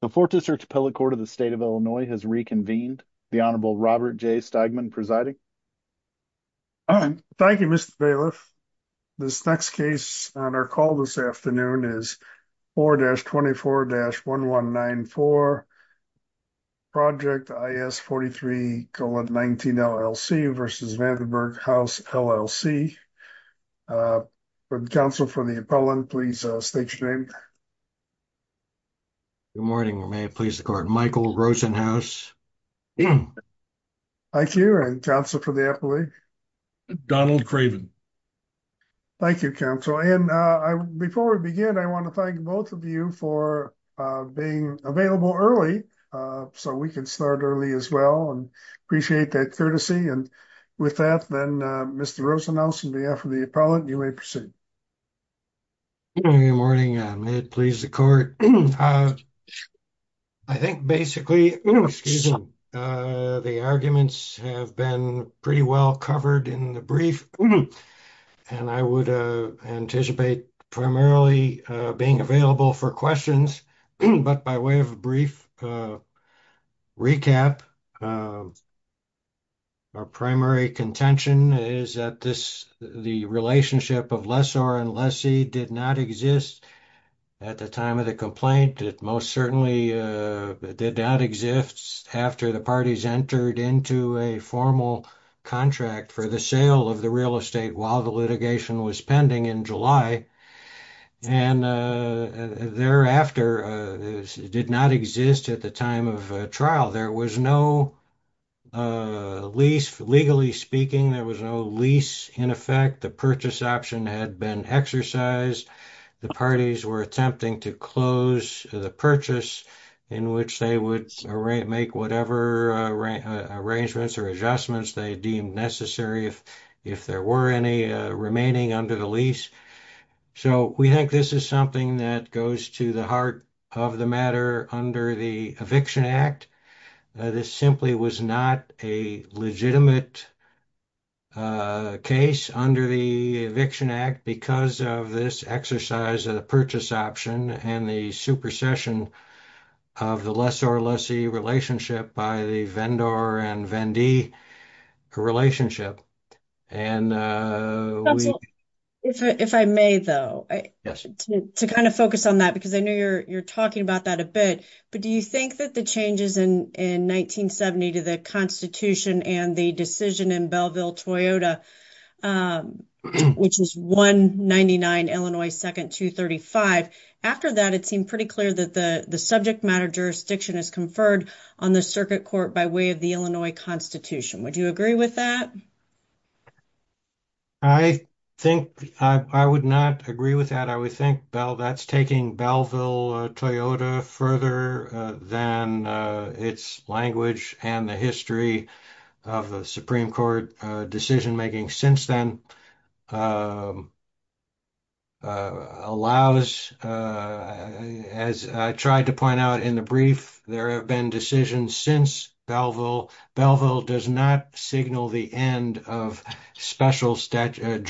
The 4th District Appellate Court of the State of Illinois has reconvened. The Honorable Robert J. Steigman presiding. Thank you, Mr. Bailiff. This next case on our call this afternoon is 4-24-1194, Project IS 43,19, LLC v. Vanderburgh House, LLC. Counsel for the appellant, please state your name. Good morning. May it please the court. Michael Rosenhaus. Thank you. And counsel for the appellate? Donald Craven. Thank you, counsel. And before we begin, I want to thank both of you for being available early so we can start early as well. And I appreciate that courtesy. And with that, then, Mr. Rosenhaus, on behalf of the appellant, you may proceed. Good morning. May it please the court. I think basically the arguments have been pretty well covered in the brief, and I would anticipate primarily being available for questions, but by way of a brief recap, our primary contention is that the relationship of Lessor and Lessee did not exist at the time of the complaint. It most certainly did not exist after the parties entered into a formal contract for the sale of the real estate while the did not exist at the time of trial. There was no lease, legally speaking, there was no lease in effect. The purchase option had been exercised. The parties were attempting to close the purchase in which they would make whatever arrangements or adjustments they deemed necessary if there were any remaining under the lease. So we think this is something that goes to the heart of the matter under the Eviction Act. This simply was not a legitimate case under the Eviction Act because of this exercise of the purchase option and the supersession of the Lessor-Lessee relationship by the Vendor and Vendee relationship. And if I may, though, to kind of focus on that, because I know you're talking about that a bit, but do you think that the changes in 1970 to the Constitution and the decision in Belleville, Toyota, which is 199 Illinois 2nd, 235, after that, it seemed pretty clear that the subject matter jurisdiction is conferred on the Circuit Court by way of the Illinois Constitution. Would you agree with that? I think I would not agree with that. I would think that's taking Belleville, Toyota further than its language and the history of the Supreme Court decision making since then allows, as I tried to point out in the brief, there have been decisions since Belleville. Belleville does not signal the end of the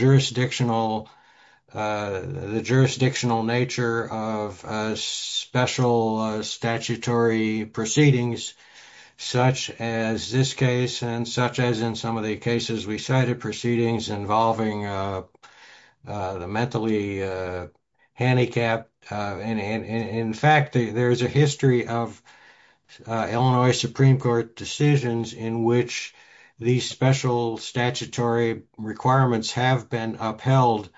jurisdictional nature of special statutory proceedings such as this case and such as in some of the cases we cited, proceedings involving the mentally handicapped. In fact, there's a history of Illinois Supreme Court decisions in which these special statutory requirements have been upheld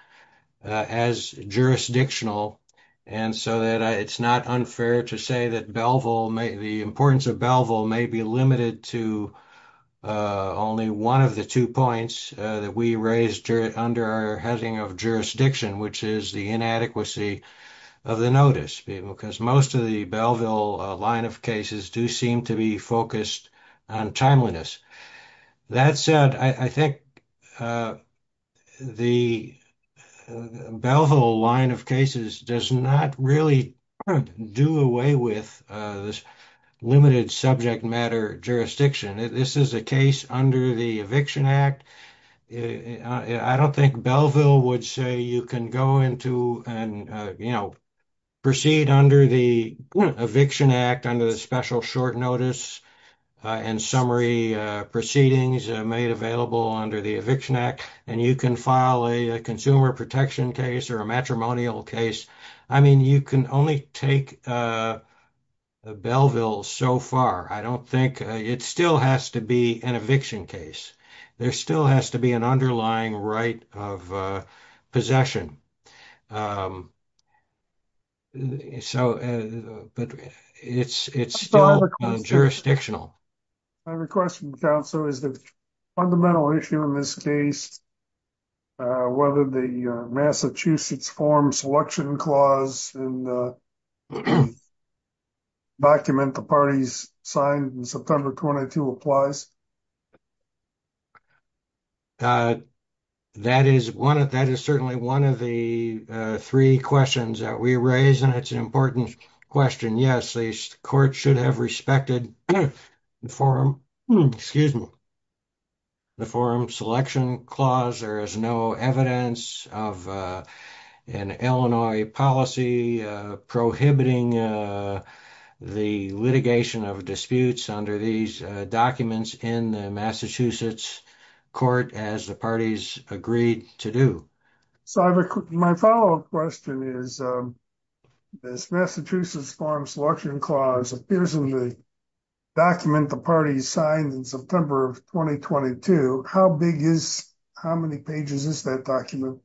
as jurisdictional and so that it's not unfair to say that Belleville, the importance of Belleville may be limited to only one of the points that we raised under our heading of jurisdiction, which is the inadequacy of the notice because most of the Belleville line of cases do seem to be focused on timeliness. That said, I think the Belleville line of cases does not really do away with this limited subject matter jurisdiction. This is a case under the Eviction Act. I don't think Belleville would say you can go into and proceed under the Eviction Act under the special short notice and summary proceedings made available under the Eviction Act and you can file a consumer protection case or a matrimonial case. I mean, you can only take Belleville so far. I don't think it still has to be an eviction case. There still has to be an underlying right of possession, but it's still jurisdictional. I have a question, counsel. Is the fundamental issue in this case whether the Massachusetts Forum Selection Clause in the document the parties signed in September 22 applies? That is certainly one of the three questions that we raised and it's an important question. Yes, the court should have respected the Forum Selection Clause. There is no evidence of an Illinois policy prohibiting the litigation of disputes under these documents in the Massachusetts court as the parties agreed to do. My follow-up question is this Massachusetts Forum Selection Clause appears in the document the parties signed in September of 2022. How big is, how many pages is that document?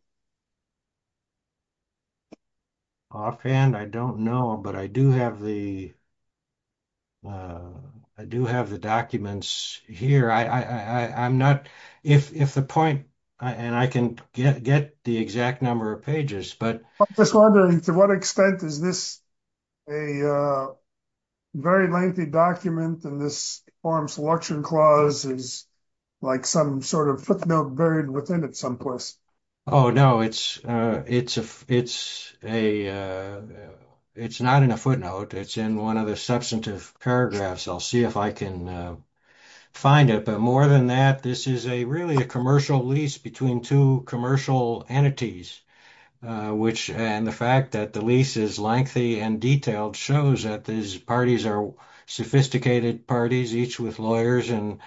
Offhand, I don't know, but I do have the, I do have the documents here. I'm not, if the point, and I can get the exact number of pages, but. I'm just wondering to what extent is this a very lengthy document and this Forum Selection Clause is like some sort of footnote buried within it someplace? Oh no, it's a, it's a, it's not in a footnote. It's in one of the substantive paragraphs. I'll see if I can find it, but more than that, this is a really a commercial lease between two commercial entities, which, and the fact that the lease is lengthy and detailed shows that these parties are sophisticated parties, each with lawyers and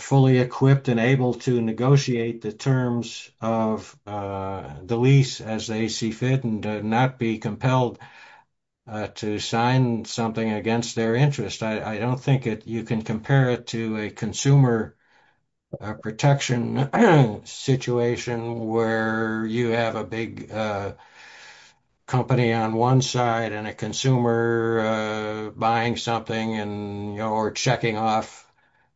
fully equipped and able to negotiate the terms of the lease as they see fit and not be compelled to sign something against their interest. I don't think it, you can compare it to a consumer protection situation where you have a big company on one side and a consumer buying something and, or checking off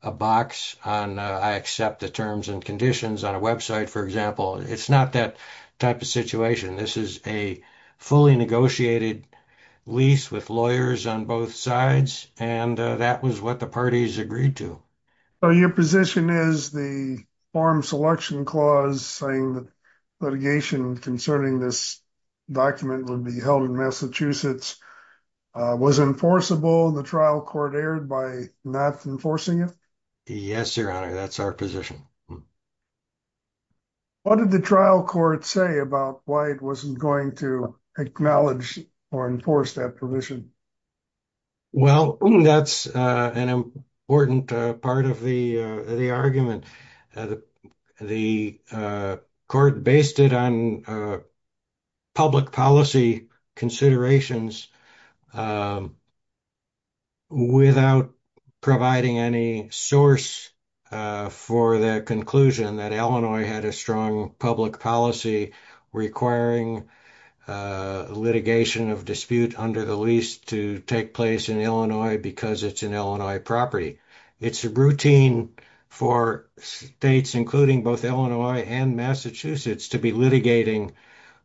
a box on, I accept the terms and conditions on a website, for example. It's not that type of situation. This is a fully negotiated lease with lawyers on both sides and that was what the parties agreed to. So your position is the Forum Selection Clause saying that litigation concerning this document would be held in Massachusetts was enforceable, the trial court erred by not enforcing it? Yes, Your Honor, that's our position. What did the trial court say about why it wasn't going to acknowledge or enforce that provision? Well, that's an important part of the argument. The court based it on public policy considerations without providing any source for the conclusion that Illinois had a strong public policy requiring a litigation of dispute under the lease to take place in Illinois because it's an Illinois property. It's a routine for states, including both Illinois and Massachusetts, to be litigating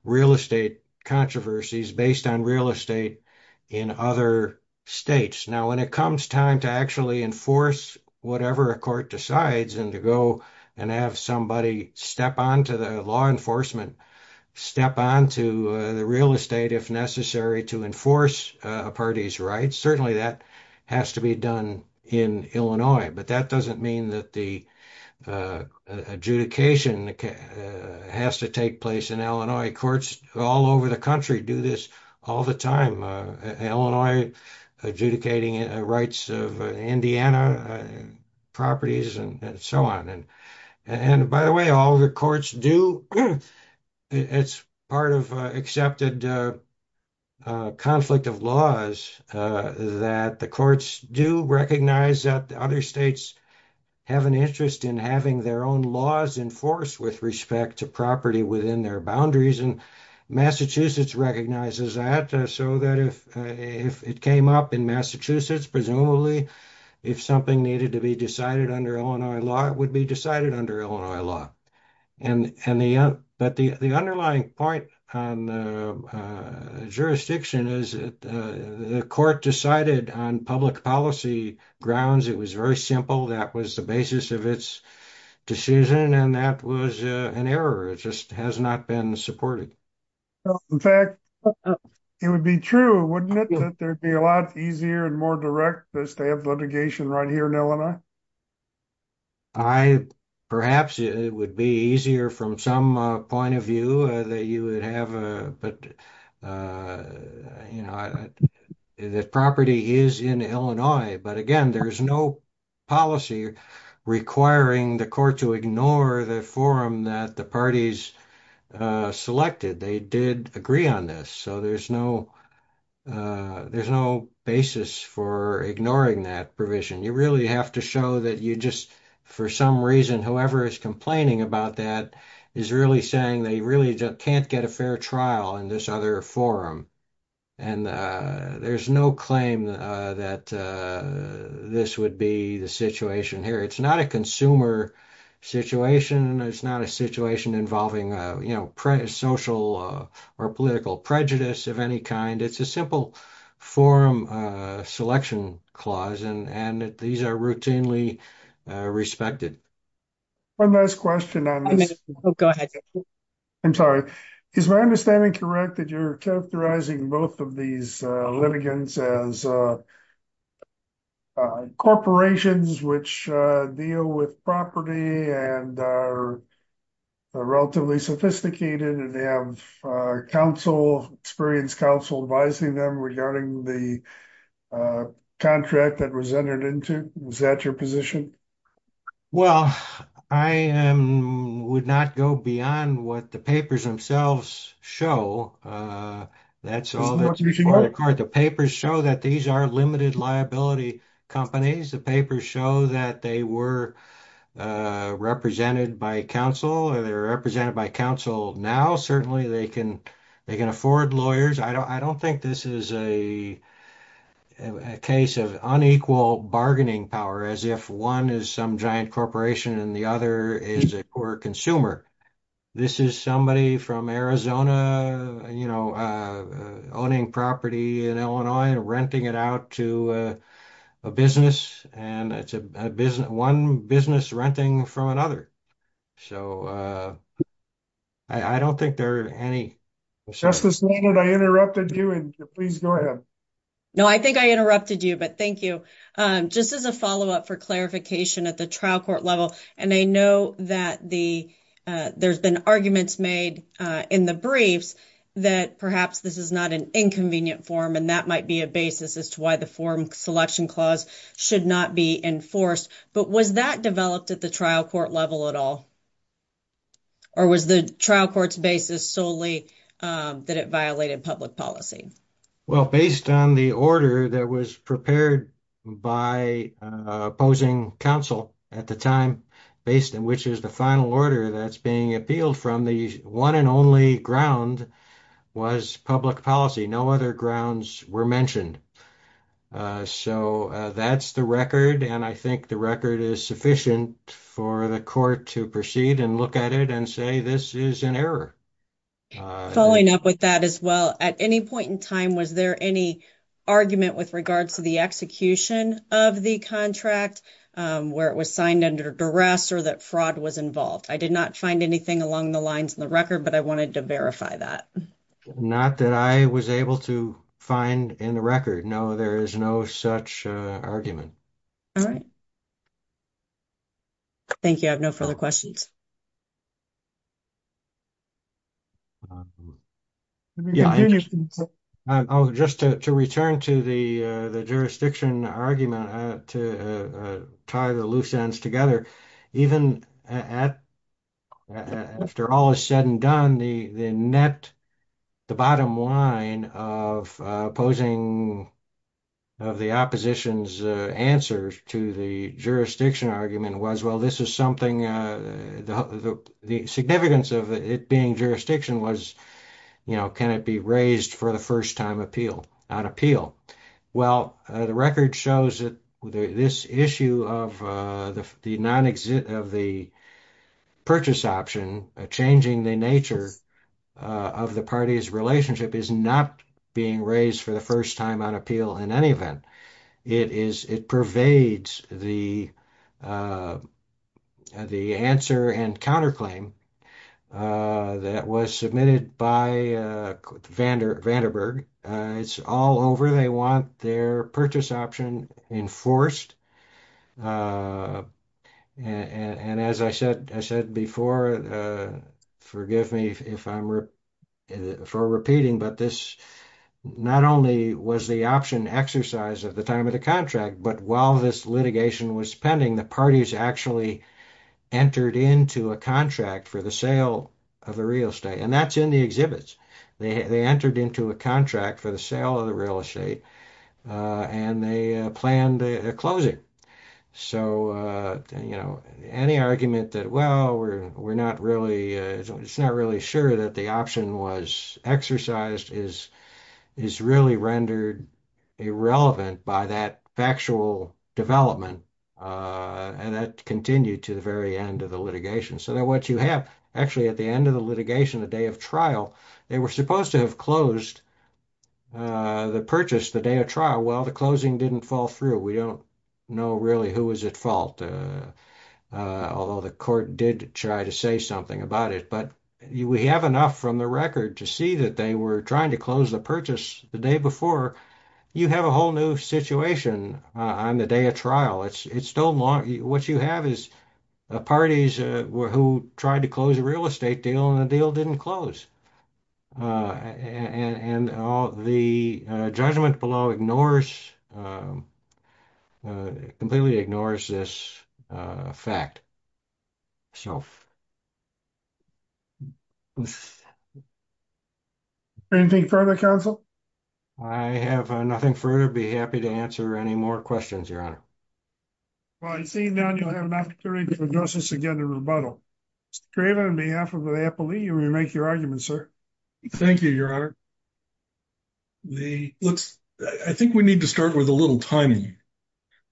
real estate controversies based on real estate in other states. Now, when it comes time to actually enforce whatever a court decides and to go and have somebody step onto the law enforcement, step onto the real estate if necessary to enforce a party's rights, certainly that has to be done in Illinois. But that doesn't mean that the adjudication has to take place in Illinois. Courts all over the country do this all the time. Illinois adjudicating rights of Indiana properties and so on. And by the way, all the courts do. It's part of accepted conflict of laws that the courts do recognize that other states have an interest in having their own laws enforced with respect to property within their boundaries. And if something needed to be decided under Illinois law, it would be decided under Illinois law. But the underlying point on the jurisdiction is that the court decided on public policy grounds. It was very simple. That was the basis of its decision. And that was an error. It just has not been supported. In fact, it would be true, wouldn't it, that there'd be a lot easier and more direct to have litigation right here in Illinois? I, perhaps it would be easier from some point of view that you would have. But, you know, the property is in Illinois. But again, there is no policy requiring the court to ignore the forum that the parties selected. They did agree on this. There's no basis for ignoring that provision. You really have to show that you just, for some reason, whoever is complaining about that is really saying they really can't get a fair trial in this other forum. And there's no claim that this would be the situation here. It's not a consumer situation. It's not a situation involving, you know, social or political prejudice of any kind. It's a simple forum selection clause. And these are routinely respected. One last question on this. I'm sorry. Is my understanding correct that you're characterizing both of these litigants as corporations which deal with property and are relatively sophisticated and they have counsel, experienced counsel, advising them regarding the contract that was entered into? Was that your position? Well, I would not go beyond what the papers themselves show. That's all that's that these are limited liability companies. The papers show that they were represented by counsel or they're represented by counsel now. Certainly, they can afford lawyers. I don't think this is a case of unequal bargaining power as if one is some giant corporation and the other is a poor consumer. This is somebody from Arizona, you know, owning property in Illinois and renting it out to a business and it's one business renting from another. So, I don't think there are any. Justice Leonard, I interrupted you and please go ahead. No, I think I interrupted you, but thank you. Just as a follow-up for clarification at the that the there's been arguments made in the briefs that perhaps this is not an inconvenient form and that might be a basis as to why the form selection clause should not be enforced, but was that developed at the trial court level at all or was the trial court's basis solely that it violated public policy? Well, based on the order that was prepared by opposing counsel at the time, based on which is the final order that's being appealed from, the one and only ground was public policy. No other grounds were mentioned. So, that's the record and I think the record is sufficient for the court to proceed and look at it and say this is an error. Following up with that as well, at any point in time was there any argument with regards to the execution of the contract where it was signed under duress or that fraud was involved? I did not find anything along the lines in the record, but I wanted to verify that. Not that I was able to find in the record. No, there is no such argument. All right. Thank you. I have no further questions. Yeah. Oh, just to return to the jurisdiction argument to tie the loose ends together, even after all is said and done, the net, the bottom line of opposing of the opposition's answers to the jurisdiction argument was, well, this is something, the significance of it being jurisdiction was, you know, can it be raised for the first time appeal, not appeal? Well, the record shows that this issue of the non-exit of the purchase option changing the nature of the party's relationship is not being raised for the first time on appeal in any event. It is, it pervades the, the answer and counterclaim that was submitted by Vanderberg. It's all over. They want their purchase option enforced. And as I said, I said before, forgive me if I'm, for repeating, but this not only was the option exercise at the time of the contract, but while this litigation was pending, the parties actually entered into a contract for the sale of the real estate, and that's in the exhibits. They entered into a contract for the sale of the real estate and they planned a closing. So, you know, any argument that, well, we're, we're not really, it's not really sure that the option was exercised is, is really rendered irrelevant by that factual development. And that continued to the very end of the litigation. So then what you have actually at the end of the litigation, the day of trial, they were supposed to have closed the purchase the day of trial. Well, the closing didn't fall through. We don't know really who was at fault. Although the court did try to say something about it, but we have enough from the record to see that they were trying to close the purchase the day before. You have a whole new situation on the day of trial. It's, it's still long. What you have is parties who tried to close a real estate deal and the deal didn't close. And all the judgment below ignores, completely ignores this fact. Anything further, counsel? I have nothing further. Be happy to answer any more questions, Your Honor. Well, seeing none, you'll have an opportunity to address this again in rebuttal. Mr. Craven, on behalf of the appellee, you may make your argument, sir. Thank you, Your Honor. The, let's, I think we need to start with a little timing.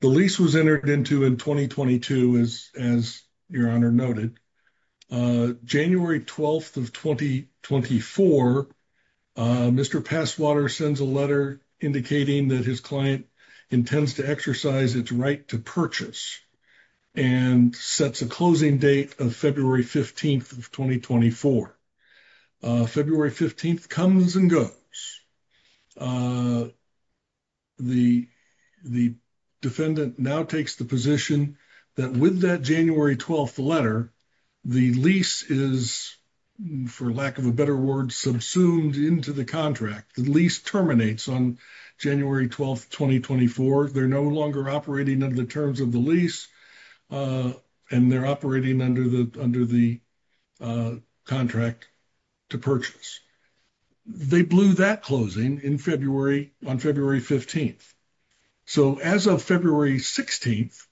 The lease was entered into in 2022 as, as Your Honor noted. January 12th of 2024, Mr. Passwater sends a letter indicating that his client intends to exercise its right to purchase and sets a closing date of February 15th of 2024. February 15th comes and goes. The, the defendant now takes the position that with that January 12th letter, the lease is, for lack of a better word, subsumed into the contract. The lease terminates on January 12th, 2024. They're no longer operating under the terms of the lease. And they're operating under the, under the contract to purchase. They blew that closing in February, on February 15th. So as of February 16th,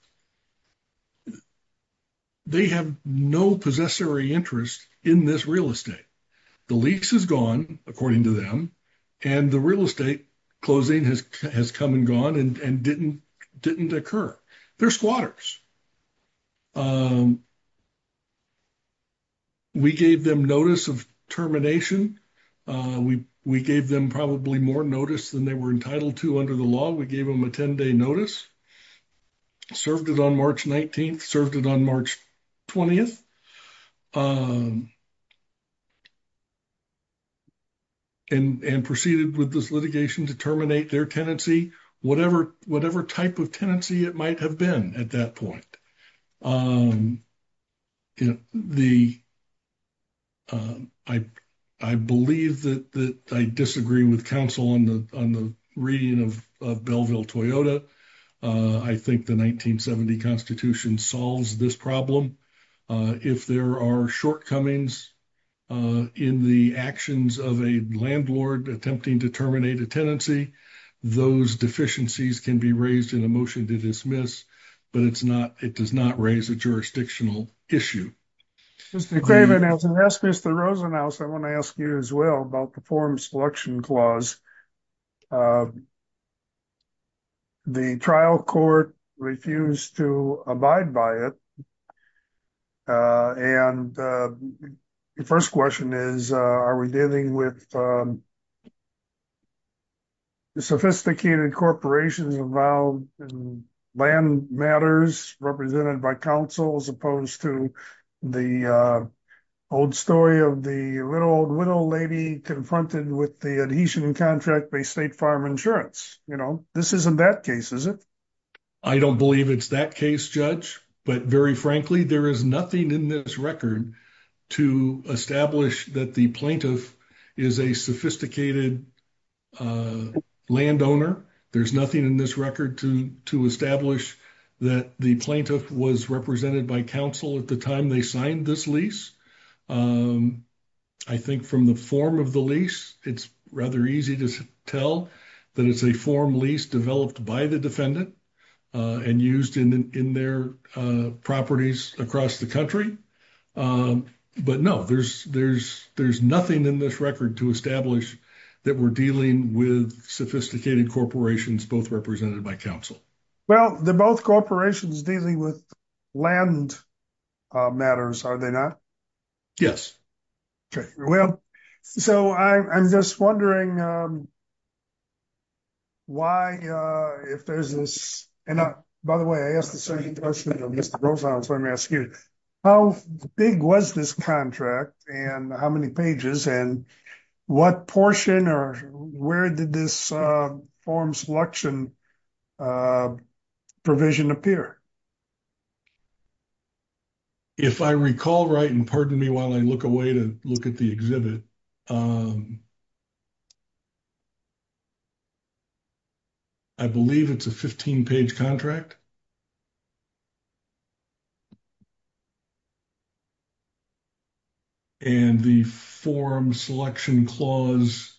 they have no possessory interest in this real estate. The lease is gone, according to them, and the real estate closing has come and gone and didn't occur. They're squatters. We gave them notice of termination. We gave them probably more notice than they were entitled to under the law. We gave them a 10-day notice, served it on March 19th, served it on March 20th. And proceeded with this litigation to terminate their tenancy, whatever type of tenancy it might have been at that point. You know, the, I believe that I disagree with counsel on the reading of Bellville-Toyota. I think the 1970 constitution solves this problem. If there are shortcomings in the actions of a landlord attempting to terminate a tenancy, those deficiencies can be raised in a motion to dismiss, but it's not, it does not raise a jurisdictional issue. Mr. Craven, I was going to ask Mr. Rosenhaus, I want to ask you as well about the form selection clause. The trial court refused to abide by it. And the first question is, are we dealing with sophisticated corporations involved in land matters represented by counsel as opposed to the old story of the little old widow lady confronted with the adhesion contract by state farm insurance? You know, this isn't that case, is it? I don't believe it's that case, Judge. But very frankly, there is nothing in this record to establish that the plaintiff is a sophisticated landowner. There's nothing in this record to establish that the plaintiff was represented by counsel at the time they signed this lease. I think from the form of the lease, it's rather easy to tell that it's a form lease developed by the defendant and used in their properties across the country. But no, there's nothing in this record to establish that we're dealing with sophisticated corporations, both represented by counsel. Well, they're both corporations dealing with land matters, are they not? Yes. Well, so I'm just wondering why, if there's this, and by the way, I asked the same question of Mr. Rosenhaus, let me ask you, how big was this contract and how many pages and what portion or where did this form selection provision appear? If I recall right, and pardon me while I look away to look at the exhibit, I believe it's a 15-page contract. And the form selection clause,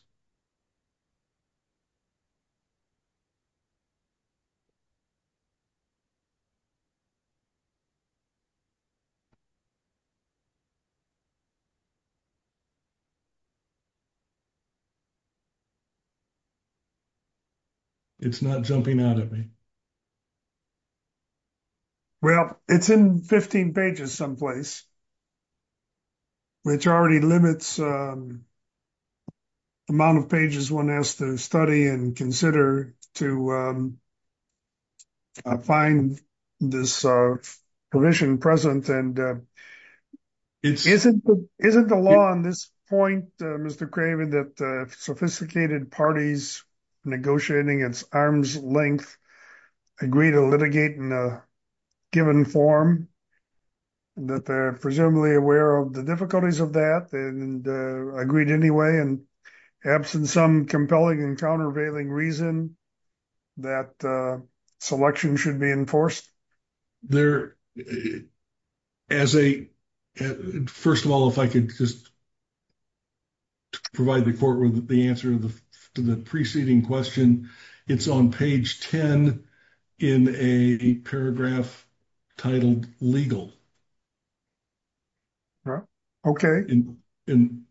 it's not jumping out at me. Well, it's in 15 pages someplace, which already limits the amount of pages one has to study and consider to find this provision present. And isn't the law on this point, Mr. Craven, that sophisticated parties negotiating its arm's length agree to litigate in a given form, that they're presumably aware of the difficulties of that and agreed anyway, and absent some compelling and countervailing reason that selection should be enforced? There, as a, first of all, if I could just provide the court with the answer to the preceding question, it's on page 10 in a paragraph titled legal. Okay. In an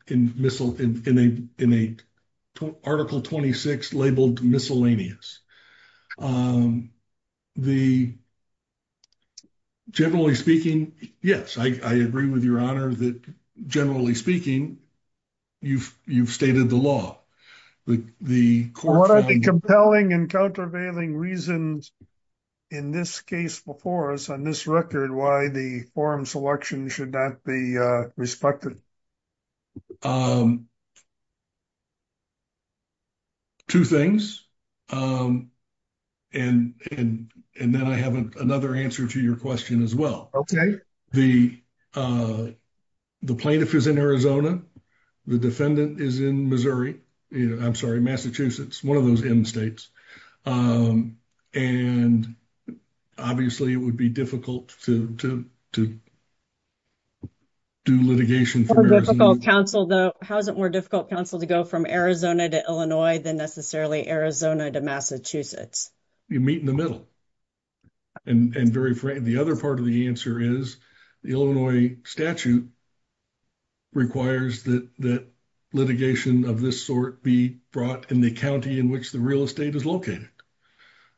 article 26 labeled miscellaneous. The generally speaking, yes, I agree with your honor that generally speaking, you've stated the law. What are the compelling and countervailing reasons in this case before us on this record, why the form selection should not be respected? Two things. And then I have another answer to your question as well. The plaintiff is in Arizona. The defendant is in Missouri. I'm sorry, Massachusetts, one of those M states. And obviously, it would be difficult to do litigation. How is it more difficult counsel to go from Arizona to Illinois than necessarily Arizona to Massachusetts? You meet in the middle. And the other part of the answer is the Illinois statute requires that litigation of this sort be brought in the county in which the real estate is located.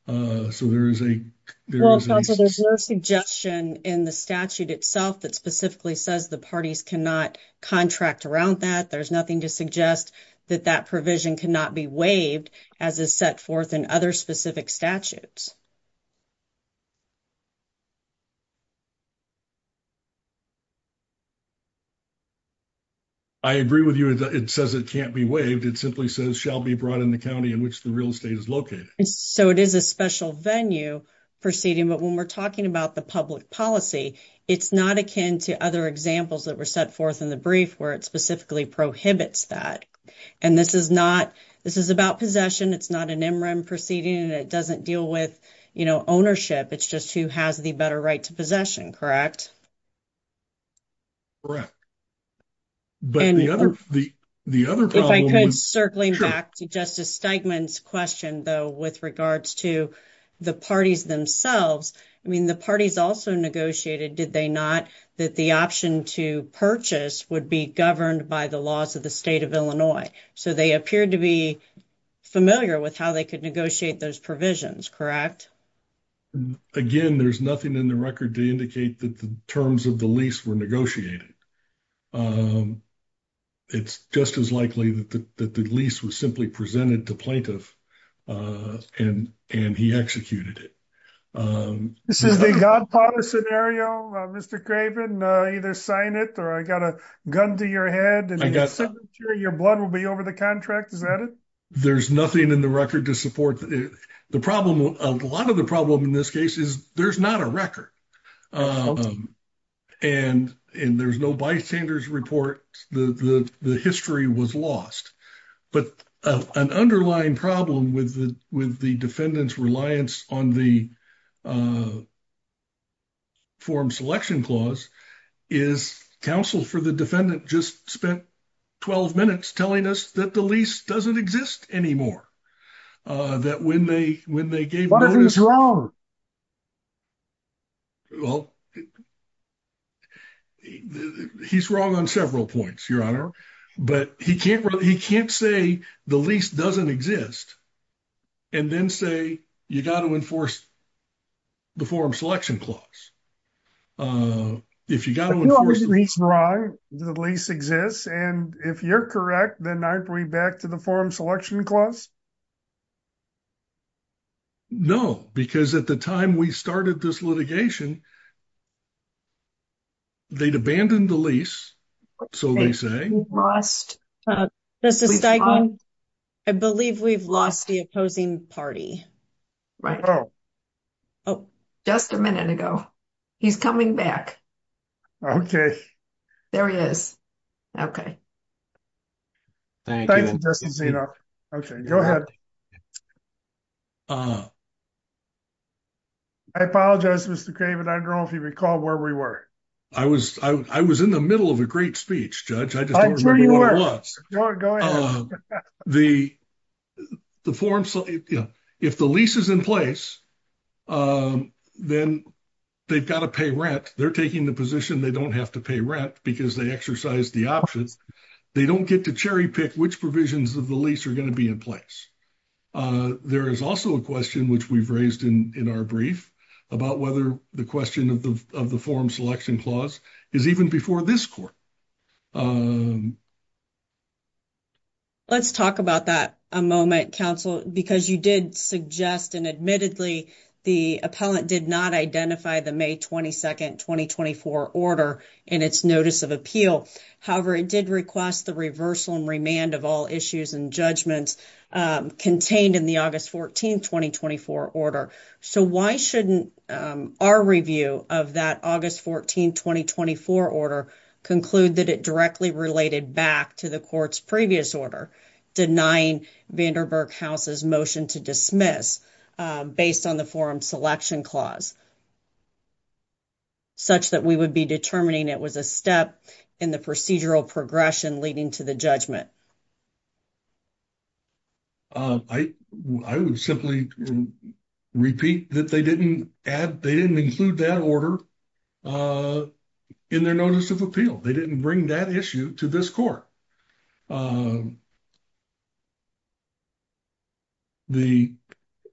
So there is a suggestion in the statute itself that specifically says the parties cannot contract around that. There's nothing to suggest that that provision cannot be waived as is set forth in other specific statutes. I agree with you. It says it can't be waived. It simply says shall be brought in the county in which the real estate is located. And so it is a special venue proceeding. But when we're talking about the public policy, it's not akin to other examples that were set forth in the brief where it specifically prohibits that. And this is not, this is about possession. It's not an MRM proceeding. And it doesn't deal with, you know, what's going on in the county. You know, ownership. It's just who has the better right to possession, correct? Correct. But the other, the, the other problem. If I could, circling back to Justice Steigman's question, though, with regards to the parties themselves, I mean, the parties also negotiated, did they not, that the option to purchase would be governed by the laws of the state of Illinois. So they appeared to be familiar with how they could negotiate those provisions, correct? Again, there's nothing in the record to indicate that the terms of the lease were negotiated. It's just as likely that the lease was simply presented to plaintiff and he executed it. This is the Godfather scenario, Mr. Craven, either sign it or I got a gun to your head. Your blood will be over the contract. Is that it? There's nothing in the record to support the problem. A lot of the problem in this case is there's not a record. And there's no bystanders report. The history was lost. But an underlying problem with the defendant's reliance on the Form Selection Clause is counsel for the defendant just spent 12 minutes telling us that the lease doesn't exist anymore. That when they gave notice- What if he's wrong? Well, he's wrong on several points, Your Honor. But he can't say the lease doesn't exist and then say you got to enforce the Form Selection Clause. If you got to enforce- But you always agree that the lease exists. And if you're correct, then I agree back to the Form Selection Clause? No, because at the time we started this litigation, they'd abandoned the lease. So they say- Justice Steigman, I believe we've lost the opposing party. Just a minute ago. He's coming back. There he is. Okay. Thank you, Justice Zino. Okay, go ahead. I apologize, Mr. Craven. I don't know if you recall where we were. I was in the middle of a great speech, Judge. I just don't remember where I was. Go ahead. If the lease is in place, then they've got to pay rent. They're taking the position they don't have to pay rent because they exercise the options. They don't get to cherry pick which provisions of the lease are going to be in place. There is also a question which we've raised in our brief about whether the question of the Form Selection Clause is even before this court. Let's talk about that a moment, counsel, because you did suggest and admittedly the appellant did not identify the May 22, 2024 order in its Notice of Appeal. However, it did request the reversal and remand of all issues and judgments contained in the August 14, 2024 order. So why shouldn't our review of that August 14, 2024 order conclude that it directly related back to the court's previous order denying Vanderburg House's motion to dismiss based on the Form Selection Clause such that we would be determining it was a step in the procedural progression leading to the judgment? I would simply repeat that they didn't include that order in their Notice of Appeal. They didn't bring that issue to this court.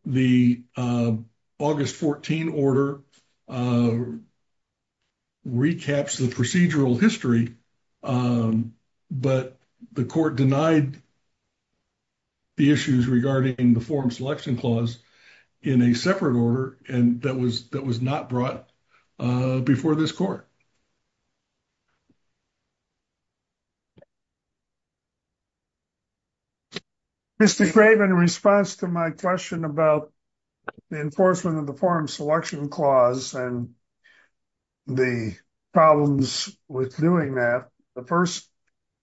The August 14 order recaps the procedural history, but the court denied the issues regarding the Form Selection Clause in a separate order that was not brought before this court. Mr. Craven, in response to my question about the enforcement of the Form Selection Clause and the problems with doing that, the first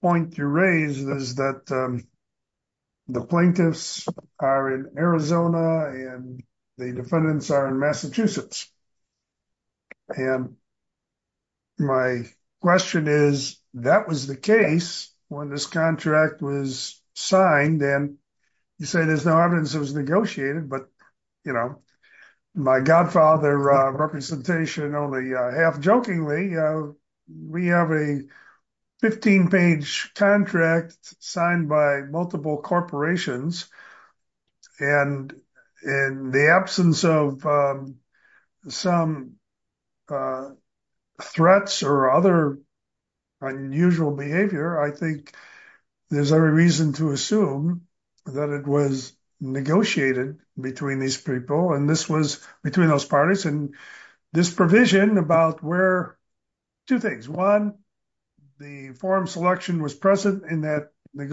point you raised is that the plaintiffs are in Arizona and the defendants are in Massachusetts. And my question is, that was the case when this contract was signed and you said there's no evidence it was negotiated, but you know, my godfather representation only half-jokingly, we have a 15-page contract signed by multiple corporations and in the absence of some threats or other unusual behavior, I think there's every reason to assume that it was negotiated between these people and this was between those parties. And this provision about where two things, one, the form selection was present in that they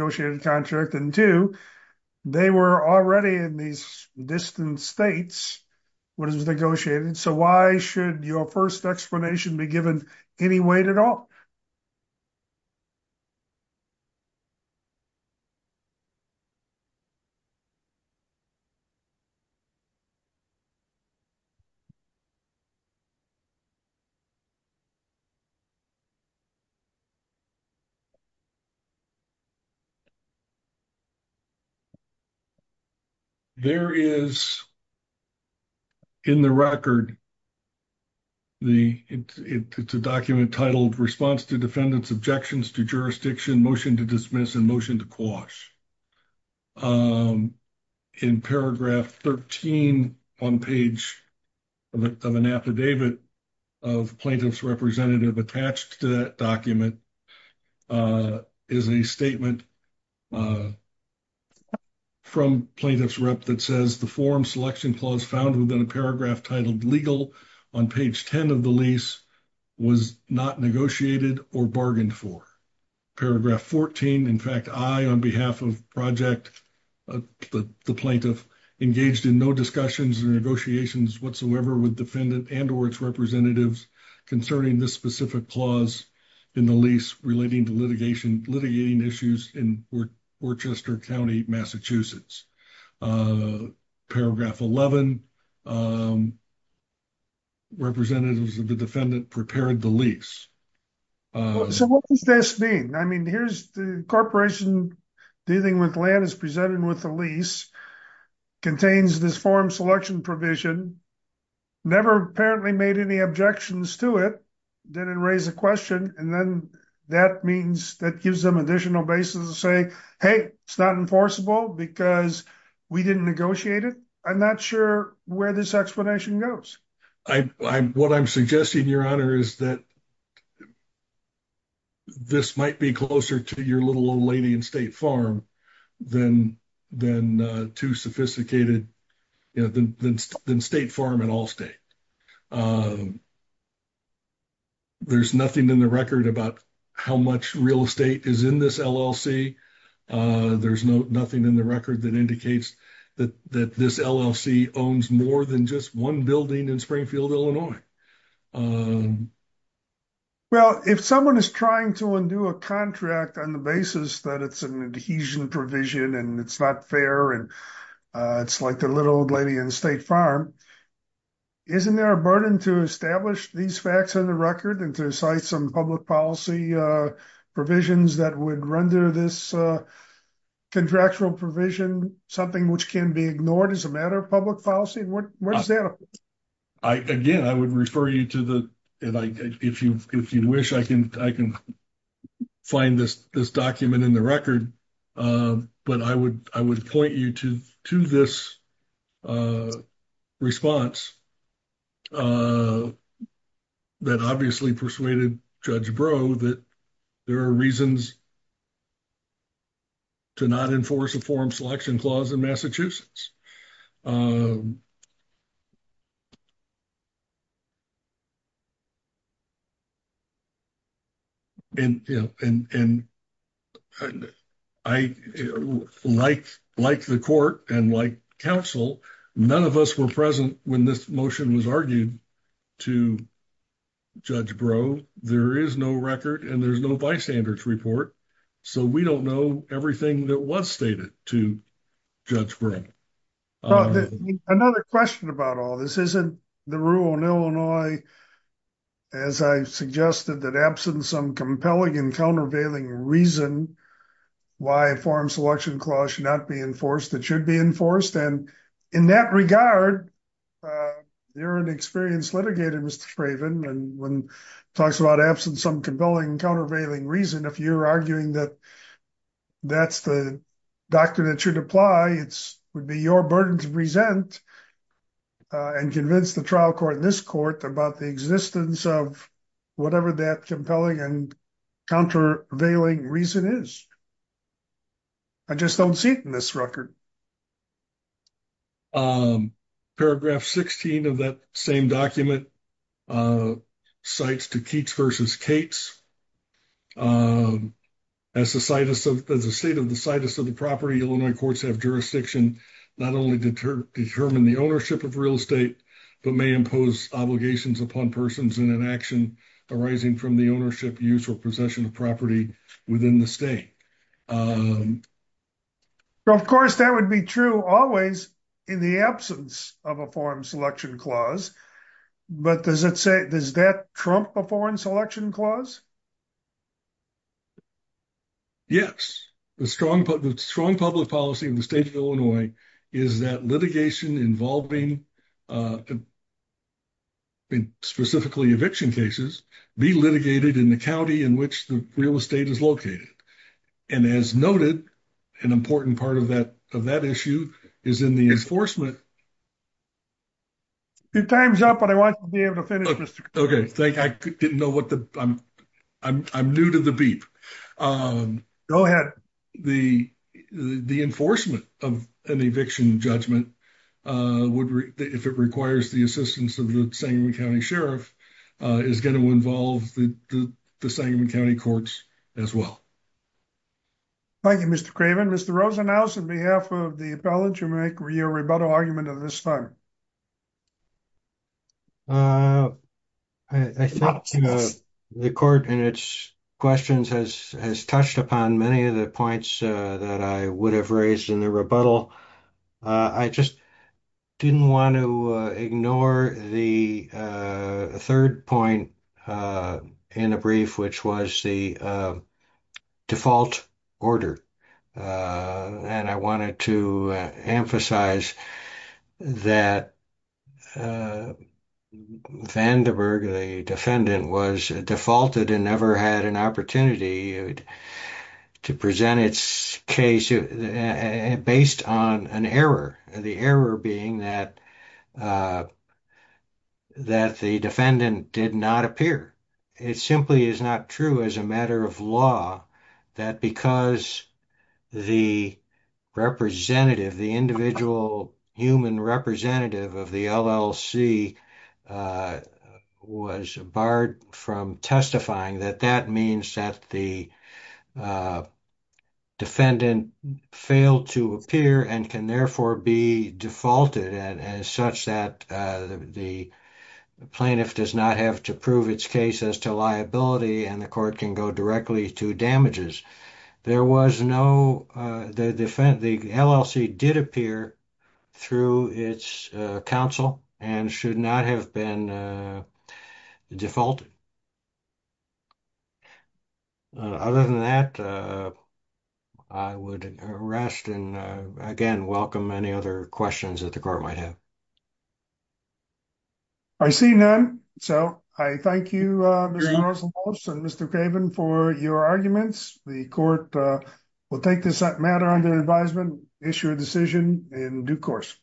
were already in these distant states when it was negotiated. So, why should your first explanation be given any weight at all? There is, in the record, it's a document titled Response to Defendant's Objections to Jurisdiction, Motion to Dismiss, and Motion to Quash. In paragraph 13, one page of an affidavit of plaintiff's representative attached to that document is a statement from plaintiff's rep that says the form selection clause found within a paragraph titled legal on page 10 of the lease was not negotiated or bargained for. Paragraph 14, in fact, I, on behalf of Project, the plaintiff, engaged in no discussions or negotiations whatsoever with defendant and or its representatives concerning this specific clause in the lease relating to litigation, litigating issues in Worchester County, Massachusetts. Paragraph 11, representatives of the defendant prepared the lease. So, what does this mean? I mean, here's the corporation dealing with land is presented with the lease, contains this form selection provision, never apparently made any objections to it, didn't raise a question, and then that means that gives them additional basis to say, hey, it's not enforceable because we didn't negotiate it. I'm not sure where this explanation goes. What I'm suggesting, your honor, is that this might be closer to your little old lady in farm than state farm in all state. There's nothing in the record about how much real estate is in this LLC. There's nothing in the record that indicates that this LLC owns more than just one building in Springfield, Illinois. Well, if someone is trying to undo a contract on the adhesion provision and it's not fair and it's like the little old lady in state farm, isn't there a burden to establish these facts on the record and to cite some public policy provisions that would render this contractual provision something which can be ignored as a matter of public policy? What is that? Again, I would refer you to the, if you wish, I can find this document in the record, but I would point you to this response that obviously persuaded Judge Breaux that there are reasons to not enforce a form selection clause in Massachusetts. I, like the court and like counsel, none of us were present when this motion was argued to Judge Breaux. There is no record and there's no bystanders report, so we don't know everything that was stated to Judge Breaux. Another question about all this, isn't the rule in Illinois, as I suggested, that absent some compelling and countervailing reason why a form selection clause should not be enforced, it should be enforced? And in that regard, you're an experienced litigator, Mr. Craven, and when it talks about absence of compelling and countervailing reason, if you're arguing that that's the doctrine that should apply, it would be your burden to present and convince the trial court in this court about the existence of whatever that compelling and countervailing reason is. I just don't see it in this record. Um, paragraph 16 of that same document, uh, cites to Keats versus Cates, um, as the situs of, as a state of the situs of the property, Illinois courts have jurisdiction not only to determine the ownership of real estate, but may impose obligations upon persons in an action arising from the ownership, use, or possession of property within the state. Um, so of course that would be true always in the absence of a foreign selection clause, but does it say, does that trump a foreign selection clause? Yes, the strong, the strong public policy in the state of Illinois is that litigation involving, uh, specifically eviction cases be litigated in the county in which the real estate is located. And as noted, an important part of that, of that issue is in the enforcement. Your time's up, but I want you to be able to finish. Okay. Thank you. I didn't know what the, I'm, I'm, I'm new to the beep. Um, go ahead. The, the, the enforcement of an eviction judgment, uh, would re if it requires the assistance of the same county sheriff, uh, is going to involve the, the, the Sangamon County courts as well. Thank you, Mr. Craven. Mr. Rosenhouse, on behalf of the appellate, you make your rebuttal argument of this time. Uh, I think the court and its questions has, has touched upon many of the points, uh, that I would have raised in the rebuttal. Uh, I just didn't want to ignore the, uh, third point, uh, in a brief, which was the, uh, default order. Uh, and I wanted to emphasize that, uh, Vandenberg, the defendant was defaulted and never had an opportunity to present its case based on an error and the error being that, uh, that the defendant did not appear. It simply is not true as a matter of law that because the representative, the individual human representative of the LLC, uh, was barred from testifying that that means that the, uh, defendant failed to appear and can therefore be defaulted and as such that, uh, the plaintiff does not have to prove its case as to liability and the court can go directly to damages. There was no, uh, the defendant, the LLC did appear through its, uh, counsel and should not have been, uh, defaulted. Other than that, uh, I would rest and, uh, again, welcome any other questions that the court might have. I see none. So I thank you, uh, Mr. Rosenblum and Mr. Craven for your arguments. The court, uh, will take this matter under advisement, issue a decision in due course.